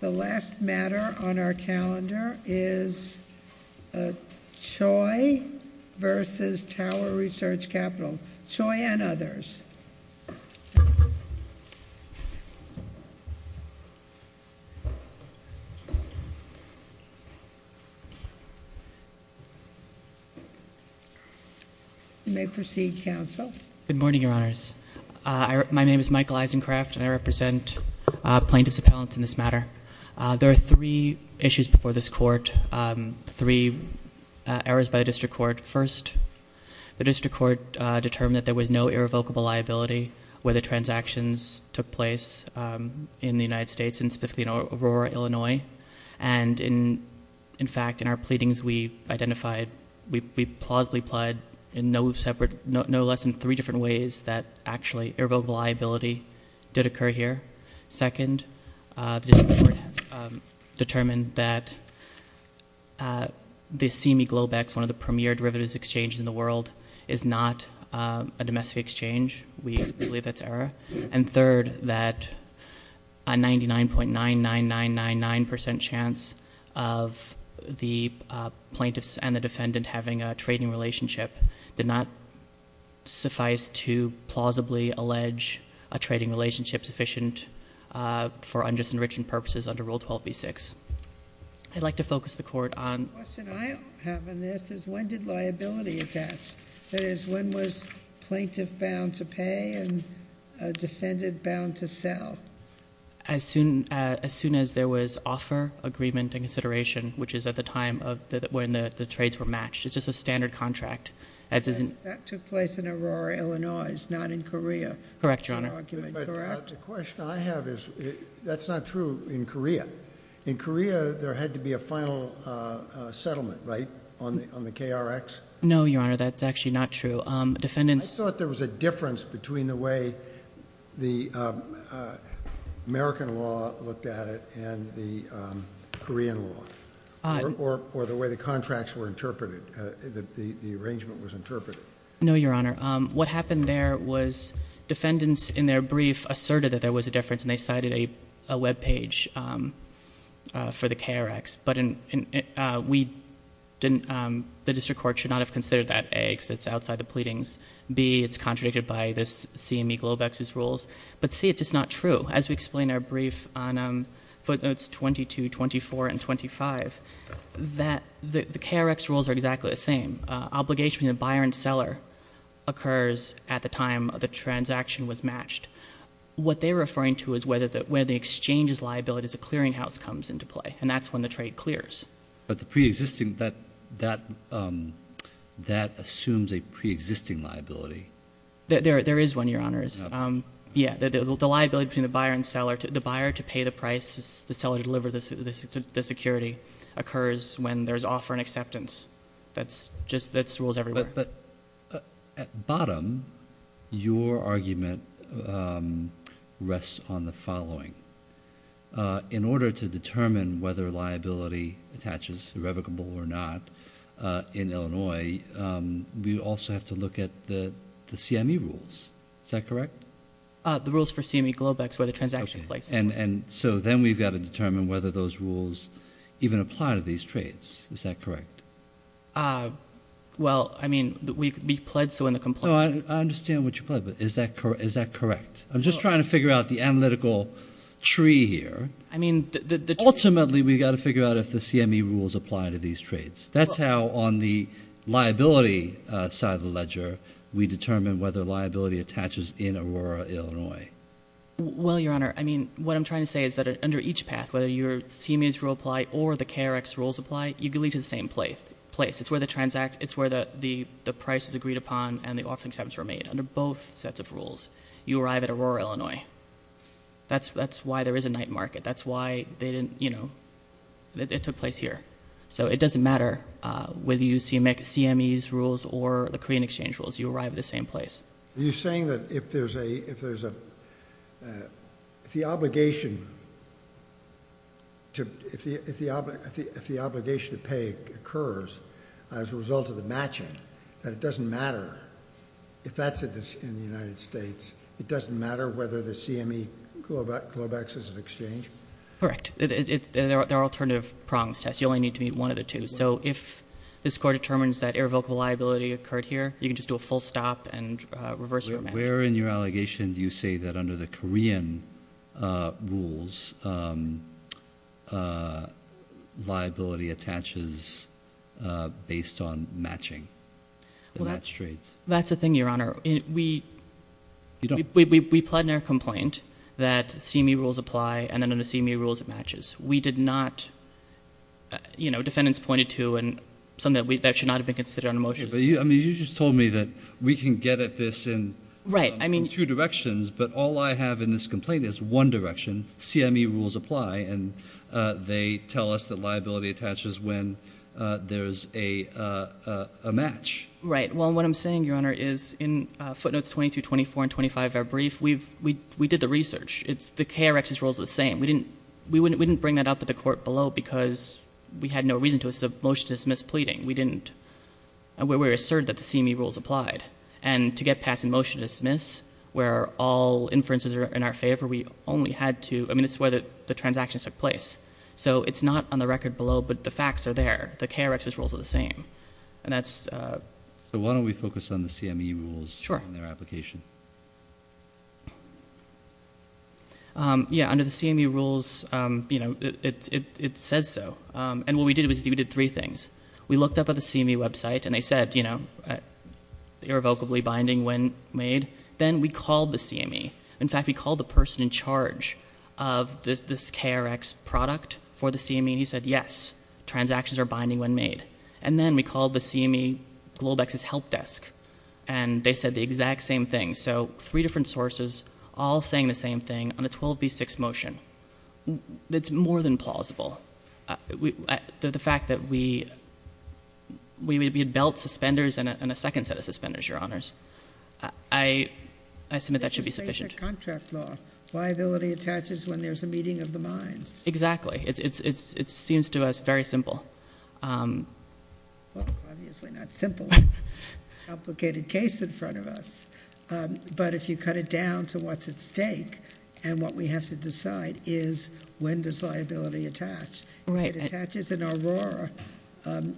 The last matter on our calendar is Choi v. Tower Research Capital. Choi and others. You may proceed, counsel. Good morning, Your Honors. My name is Michael Eisencraft, and I represent plaintiffs' appellants in this matter. There are three issues before this court, three errors by the district court. First, the district court determined that there was no irrevocable liability where the transactions took place in the United States in Spithleen, Aurora, Illinois. And in fact, in our pleadings, we identified, we plausibly plied in no less than three different ways that actually irrevocable liability did occur here. Second, the district court determined that the CME Globex, one of the premier derivatives exchanges in the world, is not a domestic exchange. We believe that's error. And third, that a 99.99999% chance of the plaintiffs and the defendant having a trading relationship did not suffice to plausibly allege a trading relationship sufficient for unjust enrichment purposes under Rule 12b-6. I'd like to focus the court on- The question I have in this is when did liability attach? That is, when was a plaintiff bound to pay and a defendant bound to sell? As soon as there was offer, agreement, and consideration, which is at the time when the trades were matched. It's just a standard contract. That took place in Aurora, Illinois. It's not in Korea. Correct, Your Honor. That's your argument, correct? But the question I have is, that's not true in Korea. In Korea, there had to be a final settlement, right, on the KRX? No, Your Honor, that's actually not true. I thought there was a difference between the way the American law looked at it and the Korean law, or the way the contracts were interpreted, the arrangement was interpreted. No, Your Honor. What happened there was defendants in their brief asserted that there was a difference, and they cited a webpage for the KRX. But the district court should not have considered that, A, because it's outside the pleadings. B, it's contradicted by this CME Globex's rules. But C, it's just not true. As we explain in our brief on footnotes 22, 24, and 25, the KRX rules are exactly the same. Obligation to the buyer and seller occurs at the time the transaction was matched. What they're referring to is where the exchange's liability as a clearinghouse comes into play, and that's when the trade clears. But the preexisting, that assumes a preexisting liability. There is one, Your Honors. Yeah, the liability between the buyer and seller, the buyer to pay the price, the seller to deliver the security occurs when there's offer and acceptance. That's just, that's rules everywhere. But at bottom, your argument rests on the following. In order to determine whether liability attaches irrevocable or not in Illinois, we also have to look at the CME rules. Is that correct? The rules for CME Globex where the transaction takes place. And so then we've got to determine whether those rules even apply to these trades. Is that correct? Well, I mean, we plead so in the complaint. I understand what you plead, but is that correct? I'm just trying to figure out the analytical tree here. Ultimately, we've got to figure out if the CME rules apply to these trades. That's how on the liability side of the ledger we determine whether liability attaches in Aurora, Illinois. Well, Your Honor, I mean, what I'm trying to say is that under each path, whether your CME rules apply or the KRX rules apply, you can lead to the same place. It's where the price is agreed upon and the offer and acceptance were made under both sets of rules. You arrive at Aurora, Illinois. That's why there is a night market. That's why they didn't, you know, it took place here. So it doesn't matter whether you use CME's rules or the Korean Exchange rules. You arrive at the same place. Are you saying that if there's a, if the obligation to, if the obligation to pay occurs as a result of the matching, that it doesn't matter if that's in the United States? It doesn't matter whether the CME Globex is an exchange? Correct. There are alternative problems, Tess. You only need to meet one of the two. So if this court determines that irrevocable liability occurred here, you can just do a full stop and reverse your match. Where in your allegation do you say that under the Korean rules liability attaches based on matching? Well, that's the thing, Your Honor. We plead in our complaint that CME rules apply and then under CME rules it matches. We did not, you know, defendants pointed to and something that should not have been considered under motions. You just told me that we can get at this in two directions, but all I have in this complaint is one direction. CME rules apply and they tell us that liability attaches when there's a match. Right. Well, what I'm saying, Your Honor, is in footnotes 22, 24, and 25 of our brief, we did the research. The KRX's rule is the same. We didn't bring that up at the court below because we had no reason to. It's a motion to dismiss pleading. We asserted that the CME rules applied. And to get pass and motion to dismiss where all inferences are in our favor, we only had to, I mean, it's where the transactions took place. So it's not on the record below, but the facts are there. The KRX's rules are the same. So why don't we focus on the CME rules in their application? Sure. Yeah, under the CME rules, you know, it says so. And what we did was we did three things. We looked up at the CME website and they said, you know, irrevocably binding when made. Then we called the CME. In fact, we called the person in charge of this KRX product for the CME and he said, yes, transactions are binding when made. And then we called the CME Globex's help desk and they said the exact same thing. So three different sources all saying the same thing on a 12B6 motion. It's more than plausible. The fact that we had belt suspenders and a second set of suspenders, Your Honors. I submit that should be sufficient. This is basic contract law. Liability attaches when there's a meeting of the minds. Exactly. It seems to us very simple. Well, it's obviously not simple. Complicated case in front of us. But if you cut it down to what's at stake and what we have to decide is when does liability attach. Right. If it attaches in Aurora,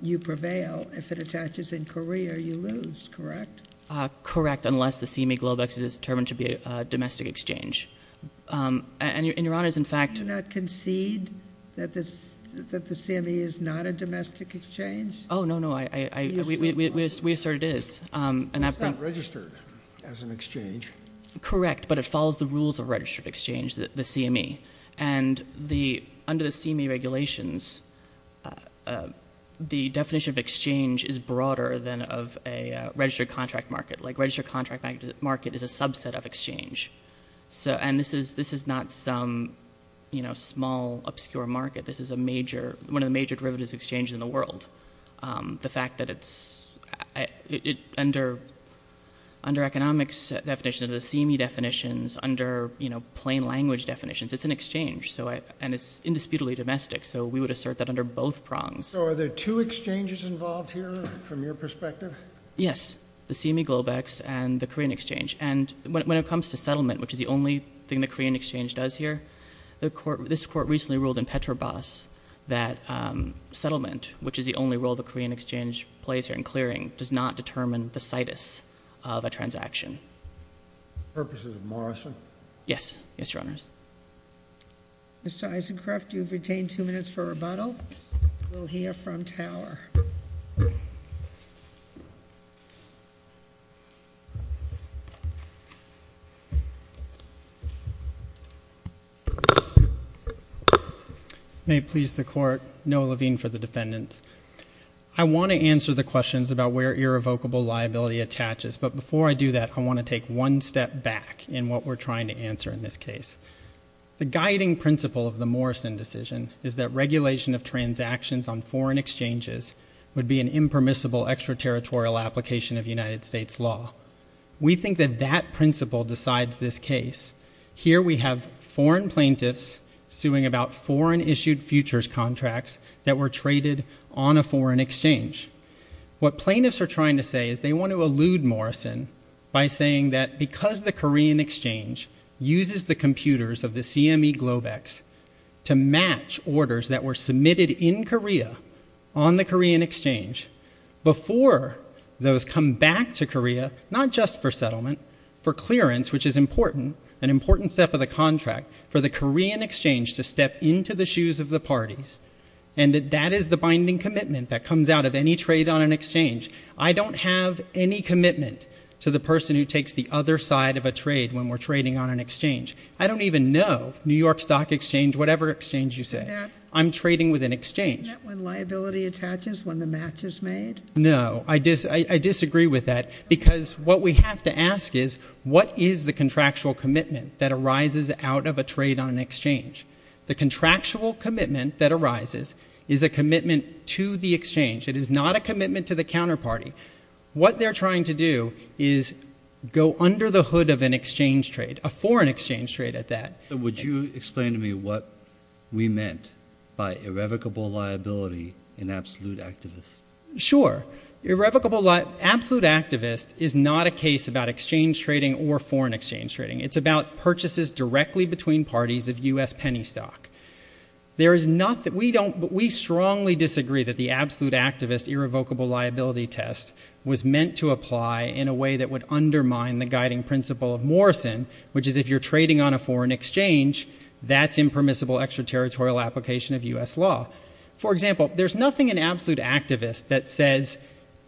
you prevail. If it attaches in Korea, you lose. Correct? Correct, unless the CME Globex is determined to be a domestic exchange. And Your Honors, in fact. Do you not concede that the CME is not a domestic exchange? Oh, no, no. We assert it is. It's not registered as an exchange. Correct, but it follows the rules of registered exchange, the CME. And under the CME regulations, the definition of exchange is broader than of a registered contract market. Like registered contract market is a subset of exchange. And this is not some, you know, small, obscure market. This is one of the major derivatives exchanges in the world. The fact that it's under economics definitions, the CME definitions, under, you know, plain language definitions, it's an exchange. And it's indisputably domestic. So we would assert that under both prongs. So are there two exchanges involved here from your perspective? Yes, the CME Globex and the Korean exchange. And when it comes to settlement, which is the only thing the Korean exchange does here, this court recently ruled in Petrobras that settlement, which is the only role the Korean exchange plays here in clearing, does not determine the situs of a transaction. The purposes of Morrison? Yes. Yes, Your Honors. Mr. Isencroft, you've retained two minutes for rebuttal. We'll hear from Tower. May it please the Court. Noah Levine for the defendants. I want to answer the questions about where irrevocable liability attaches. But before I do that, I want to take one step back in what we're trying to answer in this case. The guiding principle of the Morrison decision is that regulation of transactions on foreign exchanges would be an impermissible extraterritorial application of United States law. We think that that principle decides this case. Here we have foreign plaintiffs suing about foreign-issued futures contracts that were traded on a foreign exchange. What plaintiffs are trying to say is they want to elude Morrison by saying that because the Korean exchange uses the computers of the CME Globex to match orders that were submitted in Korea on the Korean exchange, before those come back to Korea, not just for settlement, for clearance, which is important, an important step of the contract, for the Korean exchange to step into the shoes of the parties. And that is the binding commitment that comes out of any trade on an exchange. I don't have any commitment to the person who takes the other side of a trade when we're trading on an exchange. I don't even know New York Stock Exchange, whatever exchange you say. I'm trading with an exchange. Isn't that when liability attaches, when the match is made? No, I disagree with that because what we have to ask is what is the contractual commitment that arises out of a trade on an exchange? The contractual commitment that arises is a commitment to the exchange. It is not a commitment to the counterparty. What they're trying to do is go under the hood of an exchange trade, a foreign exchange trade at that. Would you explain to me what we meant by irrevocable liability in absolute activist? Sure. Absolute activist is not a case about exchange trading or foreign exchange trading. It's about purchases directly between parties of U.S. penny stock. We strongly disagree that the absolute activist irrevocable liability test was meant to apply in a way that would undermine the guiding principle of Morrison, which is if you're trading on a foreign exchange, that's impermissible extraterritorial application of U.S. law. For example, there's nothing in absolute activist that says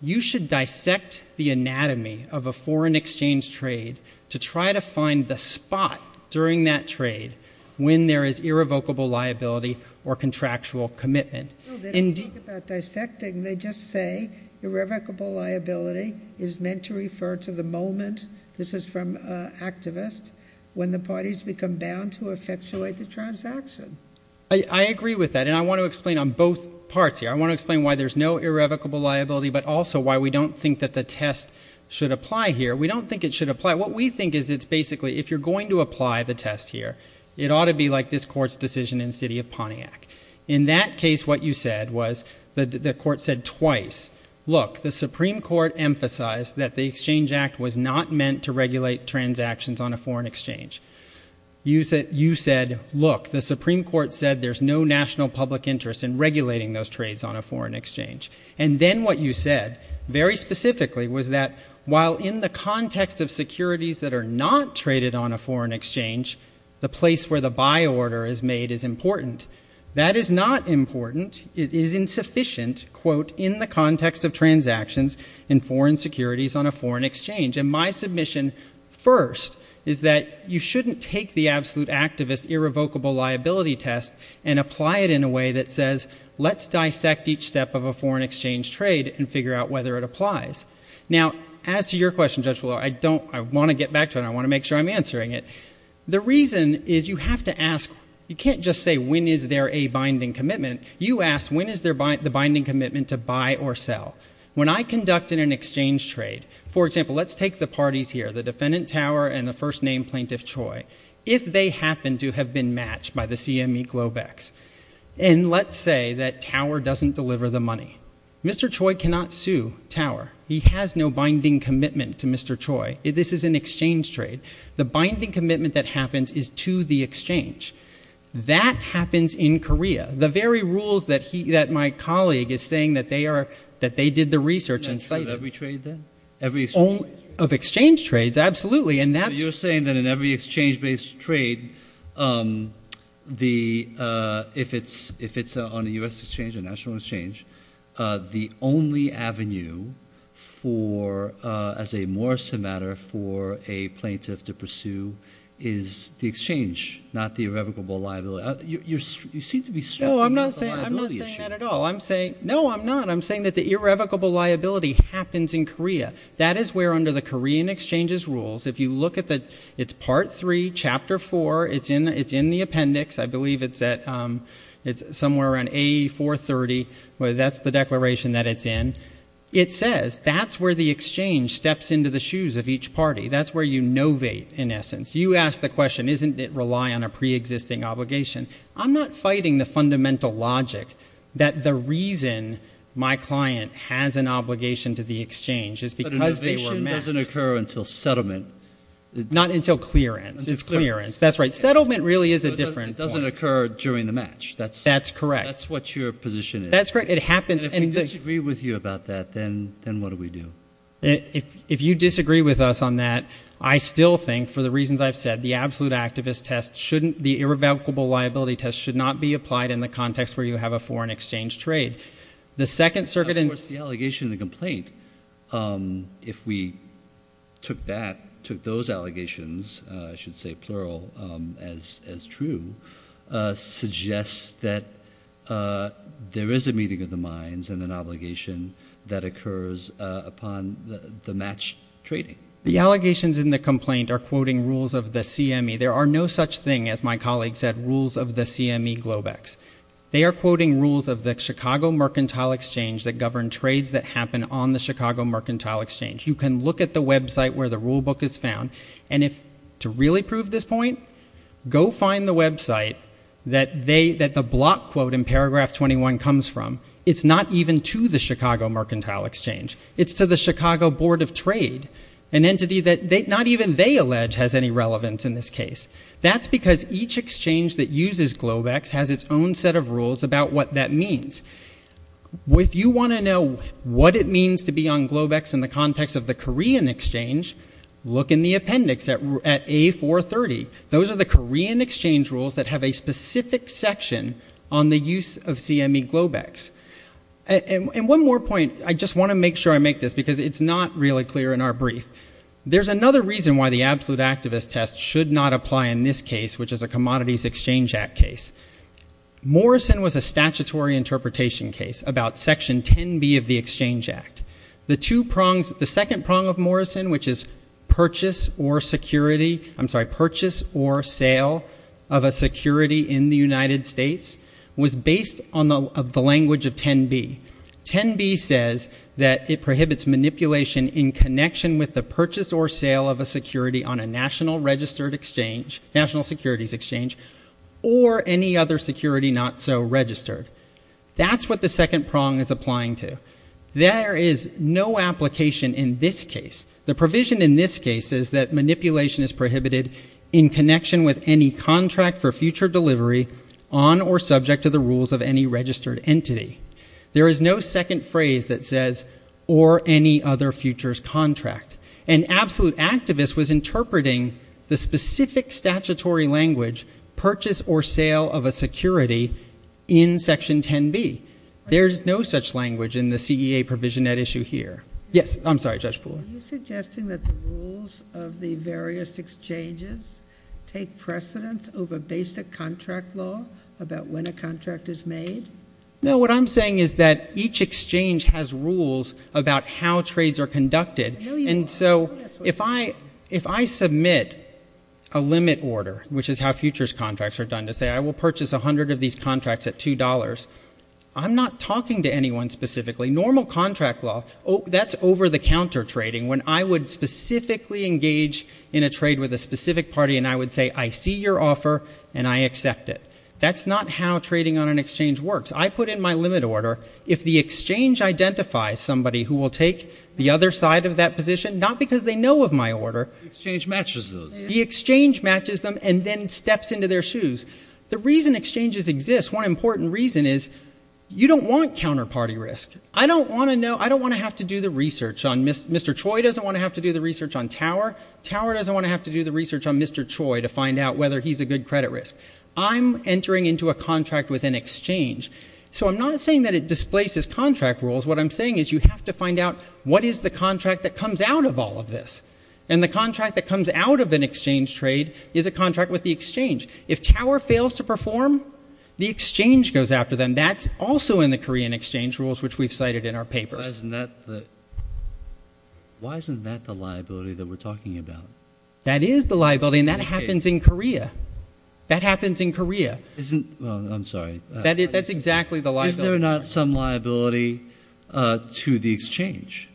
you should dissect the anatomy of a foreign exchange trade to try to find the spot during that trade when there is irrevocable liability or contractual commitment. They don't talk about dissecting. They just say irrevocable liability is meant to refer to the moment, this is from activist, when the parties become bound to effectuate the transaction. I agree with that, and I want to explain on both parts here. I want to explain why there's no irrevocable liability but also why we don't think that the test should apply here. We don't think it should apply. What we think is it's basically if you're going to apply the test here, it ought to be like this court's decision in the city of Pontiac. In that case, what you said was the court said twice, look, the Supreme Court emphasized that the Exchange Act was not meant to regulate transactions on a foreign exchange. You said, look, the Supreme Court said there's no national public interest in regulating those trades on a foreign exchange. And then what you said, very specifically, was that while in the context of securities that are not traded on a foreign exchange, the place where the buy order is made is important. That is not important. It is insufficient, quote, in the context of transactions in foreign securities on a foreign exchange. And my submission first is that you shouldn't take the absolute activist irrevocable liability test and apply it in a way that says let's dissect each step of a foreign exchange trade and figure out whether it applies. Now, as to your question, Judge Blore, I don't – I want to get back to it and I want to make sure I'm answering it. The reason is you have to ask – you can't just say when is there a binding commitment. You ask when is there the binding commitment to buy or sell. When I conduct an exchange trade, for example, let's take the parties here, the defendant Tower and the first name plaintiff Choi. If they happen to have been matched by the CME Globex and let's say that Tower doesn't deliver the money, Mr. Choi cannot sue Tower. He has no binding commitment to Mr. Choi. This is an exchange trade. The binding commitment that happens is to the exchange. That happens in Korea. The very rules that he – that my colleague is saying that they are – that they did the research and cited. Every trade then? Of exchange trades, absolutely. You're saying that in every exchange-based trade, if it's on a U.S. exchange, a national exchange, the only avenue for – as a more so matter for a plaintiff to pursue is the exchange, not the irrevocable liability. You seem to be – No, I'm not saying that at all. I'm saying – no, I'm not. I'm saying that the irrevocable liability happens in Korea. That is where under the Korean exchange's rules, if you look at the – it's Part 3, Chapter 4. It's in the appendix. I believe it's at – it's somewhere around A430. That's the declaration that it's in. It says that's where the exchange steps into the shoes of each party. That's where you novate, in essence. You ask the question, isn't it rely on a preexisting obligation? I'm not fighting the fundamental logic that the reason my client has an obligation to the exchange is because they were matched. But innovation doesn't occur until settlement. Not until clearance. It's clearance. That's right. Settlement really is a different point. It doesn't occur during the match. That's correct. That's what your position is. That's correct. It happens. And if we disagree with you about that, then what do we do? If you disagree with us on that, I still think, for the reasons I've said, the absolute activist test shouldn't – the irrevocable liability test should not be applied in the context where you have a foreign exchange trade. The Second Circuit – Of course, the allegation and the complaint, if we took that – took those allegations, I should say plural, as true, suggests that there is a meeting of the minds and an obligation that occurs upon the matched trading. The allegations in the complaint are quoting rules of the CME. There are no such thing, as my colleague said, rules of the CME Globex. They are quoting rules of the Chicago Mercantile Exchange that govern trades that happen on the Chicago Mercantile Exchange. You can look at the website where the rulebook is found. And if – to really prove this point, go find the website that they – that the block quote in paragraph 21 comes from. It's not even to the Chicago Mercantile Exchange. It's to the Chicago Board of Trade, an entity that not even they allege has any relevance in this case. That's because each exchange that uses Globex has its own set of rules about what that means. If you want to know what it means to be on Globex in the context of the Korean exchange, look in the appendix at A430. Those are the Korean exchange rules that have a specific section on the use of CME Globex. And one more point. I just want to make sure I make this because it's not really clear in our brief. There's another reason why the absolute activist test should not apply in this case, which is a Commodities Exchange Act case. Morrison was a statutory interpretation case about Section 10B of the Exchange Act. The two prongs – the second prong of Morrison, which is purchase or security – I'm sorry, purchase or sale of a security in the United States was based on the language of 10B. 10B says that it prohibits manipulation in connection with the purchase or sale of a security on a national registered exchange, national securities exchange, or any other security not so registered. That's what the second prong is applying to. There is no application in this case. The provision in this case is that manipulation is prohibited in connection with any contract for future delivery on or subject to the rules of any registered entity. There is no second phrase that says, or any other futures contract. An absolute activist was interpreting the specific statutory language, purchase or sale of a security, in Section 10B. There's no such language in the CEA provision at issue here. Yes, I'm sorry, Judge Poole. Are you suggesting that the rules of the various exchanges take precedence over basic contract law about when a contract is made? No, what I'm saying is that each exchange has rules about how trades are conducted. And so if I submit a limit order, which is how futures contracts are done, to say, I will purchase 100 of these contracts at $2, I'm not talking to anyone specifically. Normal contract law, that's over-the-counter trading, when I would specifically engage in a trade with a specific party, and I would say, I see your offer, and I accept it. That's not how trading on an exchange works. I put in my limit order. If the exchange identifies somebody who will take the other side of that position, not because they know of my order. The exchange matches those. The exchange matches them and then steps into their shoes. The reason exchanges exist, one important reason is you don't want counterparty risk. I don't want to know, I don't want to have to do the research on Mr. Troy doesn't want to have to do the research on Tower. Tower doesn't want to have to do the research on Mr. Troy to find out whether he's a good credit risk. I'm entering into a contract with an exchange. So I'm not saying that it displaces contract rules. What I'm saying is you have to find out what is the contract that comes out of all of this. And the contract that comes out of an exchange trade is a contract with the exchange. If Tower fails to perform, the exchange goes after them. That's also in the Korean exchange rules, which we've cited in our papers. Why isn't that the liability that we're talking about? That is the liability, and that happens in Korea. That happens in Korea. I'm sorry. That's exactly the liability. Is there not some liability to the exchange?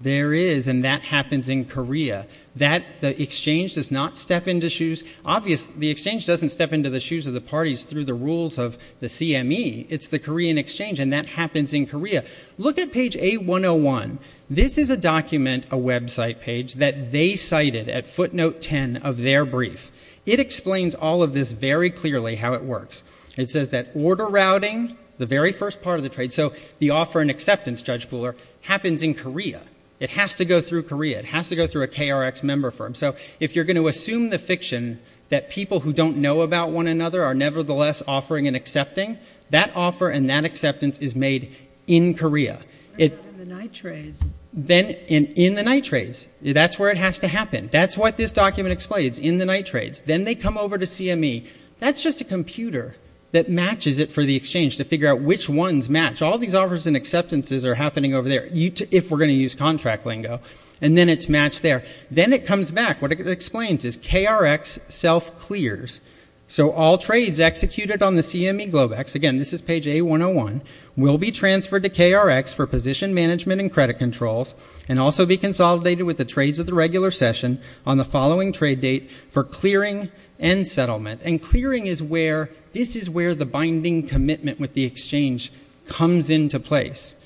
There is, and that happens in Korea. The exchange does not step into shoes. Obviously, the exchange doesn't step into the shoes of the parties through the rules of the CME. It's the Korean exchange, and that happens in Korea. Look at page A101. This is a document, a website page, that they cited at footnote 10 of their brief. It explains all of this very clearly how it works. It says that order routing, the very first part of the trade, so the offer and acceptance, Judge Pooler, happens in Korea. It has to go through Korea. It has to go through a KRX member firm. So if you're going to assume the fiction that people who don't know about one another are nevertheless offering and accepting, that offer and that acceptance is made in Korea. In the night trades. In the night trades. That's where it has to happen. That's what this document explains in the night trades. Then they come over to CME. That's just a computer that matches it for the exchange to figure out which ones match. All these offers and acceptances are happening over there, if we're going to use contract lingo, and then it's matched there. Then it comes back. What it explains is KRX self-clears. So all trades executed on the CME Globex, again, this is page A101, will be transferred to KRX for position management and credit controls and also be consolidated with the trades of the regular session on the following trade date for clearing and settlement. And clearing is where this is where the binding commitment with the exchange comes into place.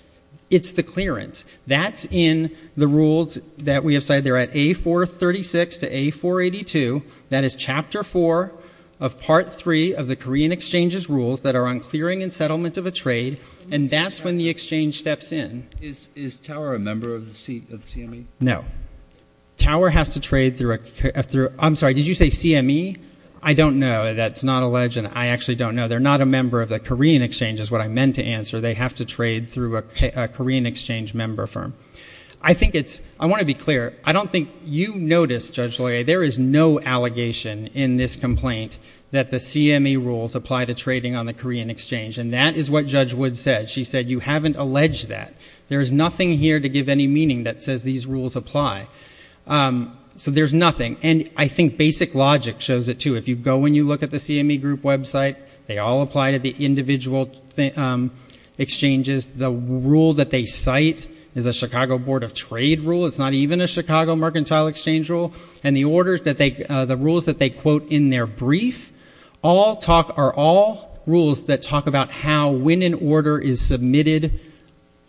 It's the clearance. That's in the rules that we have cited. They're at A436 to A482. That is Chapter 4 of Part 3 of the Korean Exchange's rules that are on clearing and settlement of a trade, and that's when the exchange steps in. Is Tower a member of the CME? No. Tower has to trade through a – I'm sorry, did you say CME? I don't know. That's not alleged, and I actually don't know. They're not a member of the Korean Exchange is what I meant to answer. They have to trade through a Korean Exchange member firm. I think it's – I want to be clear. I don't think you noticed, Judge Loyer, there is no allegation in this complaint that the CME rules apply to trading on the Korean Exchange, and that is what Judge Wood said. She said you haven't alleged that. There is nothing here to give any meaning that says these rules apply. So there's nothing. And I think basic logic shows it, too. If you go and you look at the CME Group website, they all apply to the individual exchanges. The rule that they cite is a Chicago Board of Trade rule. It's not even a Chicago Mercantile Exchange rule. And the orders that they – the rules that they quote in their brief are all rules that talk about how, when an order is submitted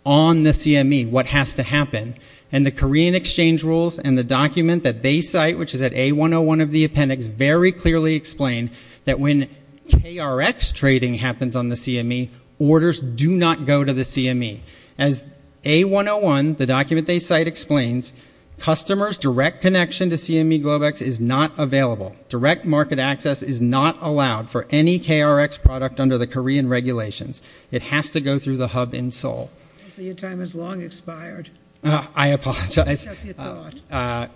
on the CME, what has to happen. And the Korean Exchange rules and the document that they cite, which is at A101 of the appendix, very clearly explain that when KRX trading happens on the CME, orders do not go to the CME. As A101, the document they cite, explains, customers' direct connection to CME Globex is not available. Direct market access is not allowed for any KRX product under the Korean regulations. It has to go through the hub in Seoul. Your time has long expired. I apologize.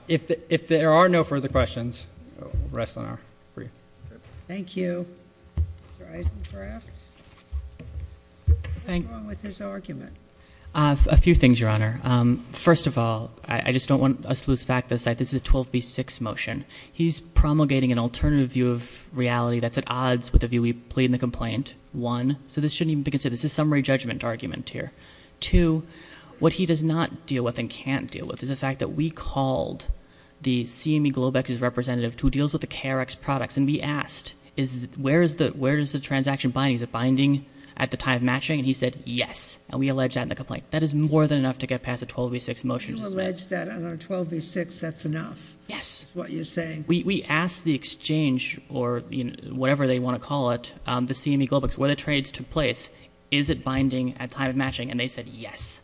If there are no further questions, we'll rest on our brief. Thank you. Mr. Eisencraft. What's wrong with his argument? A few things, Your Honor. First of all, I just don't want us to lose track of this. This is a 12B6 motion. He's promulgating an alternative view of reality that's at odds with the view we plead in the complaint, one. So this shouldn't even be considered. This is a summary judgment argument here. Two, what he does not deal with and can't deal with is the fact that we called the CME Globex's representative who deals with the KRX products, and we asked, where does the transaction bind? Is it binding at the time of matching? And he said, yes. And we allege that in the complaint. That is more than enough to get past a 12B6 motion. You allege that on a 12B6. That's enough. Yes. That's what you're saying. We asked the exchange or whatever they want to call it, the CME Globex, where the trades took place. Is it binding at time of matching? And they said, yes.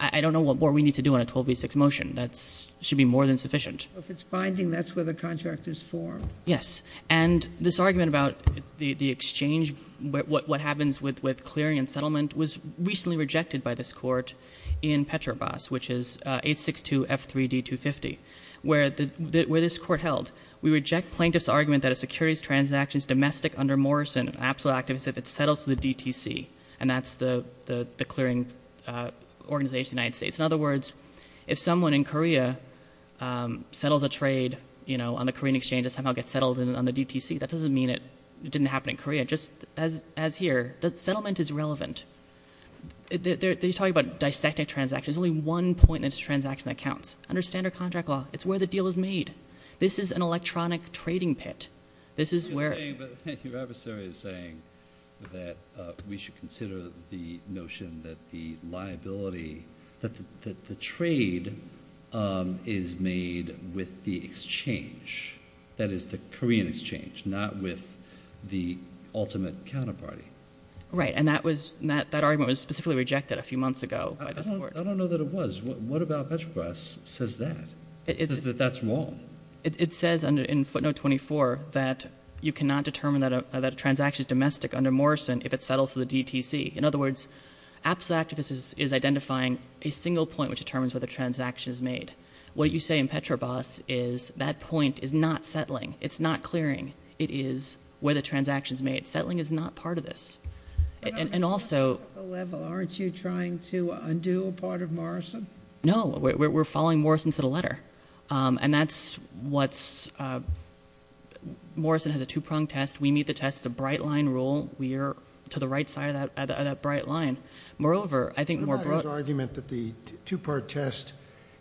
I don't know what more we need to do on a 12B6 motion. That should be more than sufficient. If it's binding, that's where the contract is formed. Yes. And this argument about the exchange, what happens with clearing and settlement, was recently rejected by this court in Petrobras, which is 862F3D250, where this court held, we reject plaintiff's argument that a securities transaction is domestic under Morrison, an absolute activist, if it settles to the DTC, and that's the clearing organization of the United States. In other words, if someone in Korea settles a trade on the Korean exchange and somehow gets settled on the DTC, that doesn't mean it didn't happen in Korea. Just as here, settlement is relevant. They're talking about dissecting transactions. There's only one point in this transaction that counts. Under standard contract law, it's where the deal is made. This is an electronic trading pit. But your adversary is saying that we should consider the notion that the liability, that the trade is made with the exchange, that is, the Korean exchange, not with the ultimate counterparty. Right, and that argument was specifically rejected a few months ago by this court. I don't know that it was. What about Petrobras says that? It says that that's wrong. It says in footnote 24 that you cannot determine that a transaction is domestic under Morrison if it settles to the DTC. In other words, absolute activist is identifying a single point which determines whether a transaction is made. What you say in Petrobras is that point is not settling. It's not clearing. It is where the transaction is made. Settling is not part of this. And also- But on a practical level, aren't you trying to undo a part of Morrison? No, we're following Morrison for the letter. And that's what's- Morrison has a two-pronged test. We meet the test. It's a bright line rule. We are to the right side of that bright line. Moreover, I think more broadly- I like his argument that the two-part test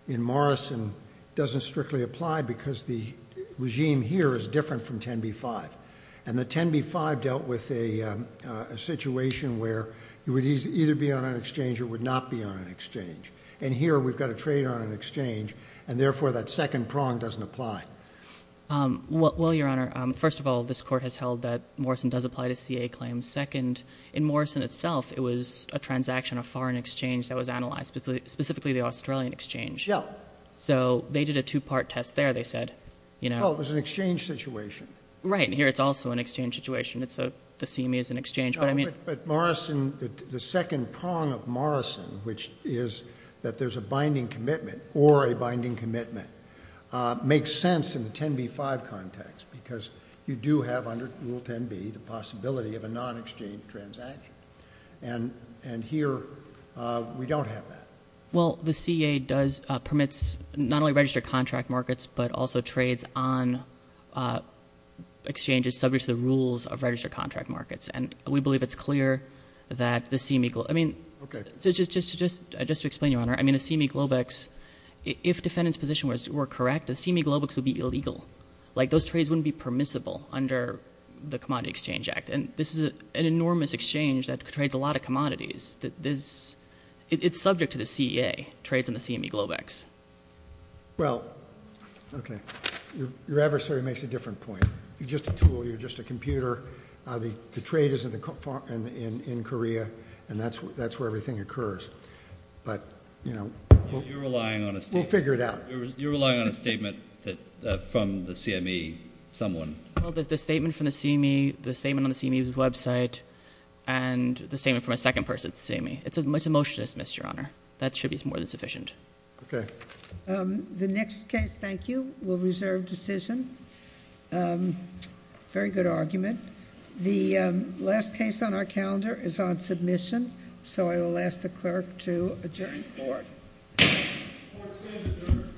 in Morrison doesn't strictly apply because the regime here is different from 10b-5. And the 10b-5 dealt with a situation where you would either be on an exchange or would not be on an exchange. And here we've got to trade on an exchange. And therefore, that second prong doesn't apply. Well, Your Honor, first of all, this Court has held that Morrison does apply to CA claims. Second, in Morrison itself, it was a transaction, a foreign exchange that was analyzed, specifically the Australian exchange. Yeah. So they did a two-part test there, they said. Oh, it was an exchange situation. Right. And here it's also an exchange situation. The CME is an exchange. But Morrison, the second prong of Morrison, which is that there's a binding commitment or a binding commitment, makes sense in the 10b-5 context because you do have under Rule 10b the possibility of a non-exchange transaction. And here we don't have that. Well, the CA does permit not only registered contract markets but also trades on exchanges subject to the rules of registered contract markets. And we believe it's clear that the CME – I mean, just to explain, Your Honor. I mean, the CME Globex, if defendants' position were correct, the CME Globex would be illegal. Like, those trades wouldn't be permissible under the Commodity Exchange Act. And this is an enormous exchange that trades a lot of commodities. It's subject to the CA, trades on the CME Globex. Well, okay. Your adversary makes a different point. You're just a tool. You're just a computer. The trade is in Korea, and that's where everything occurs. But, you know, we'll figure it out. You're relying on a statement from the CME someone. Well, there's the statement from the CME, the statement on the CME's website, and the statement from a second person at the CME. It's a motion to dismiss, Your Honor. That should be more than sufficient. Okay. The next case, thank you, will reserve decision. Very good argument. The last case on our calendar is on submission, so I will ask the clerk to adjourn the court. Court is adjourned.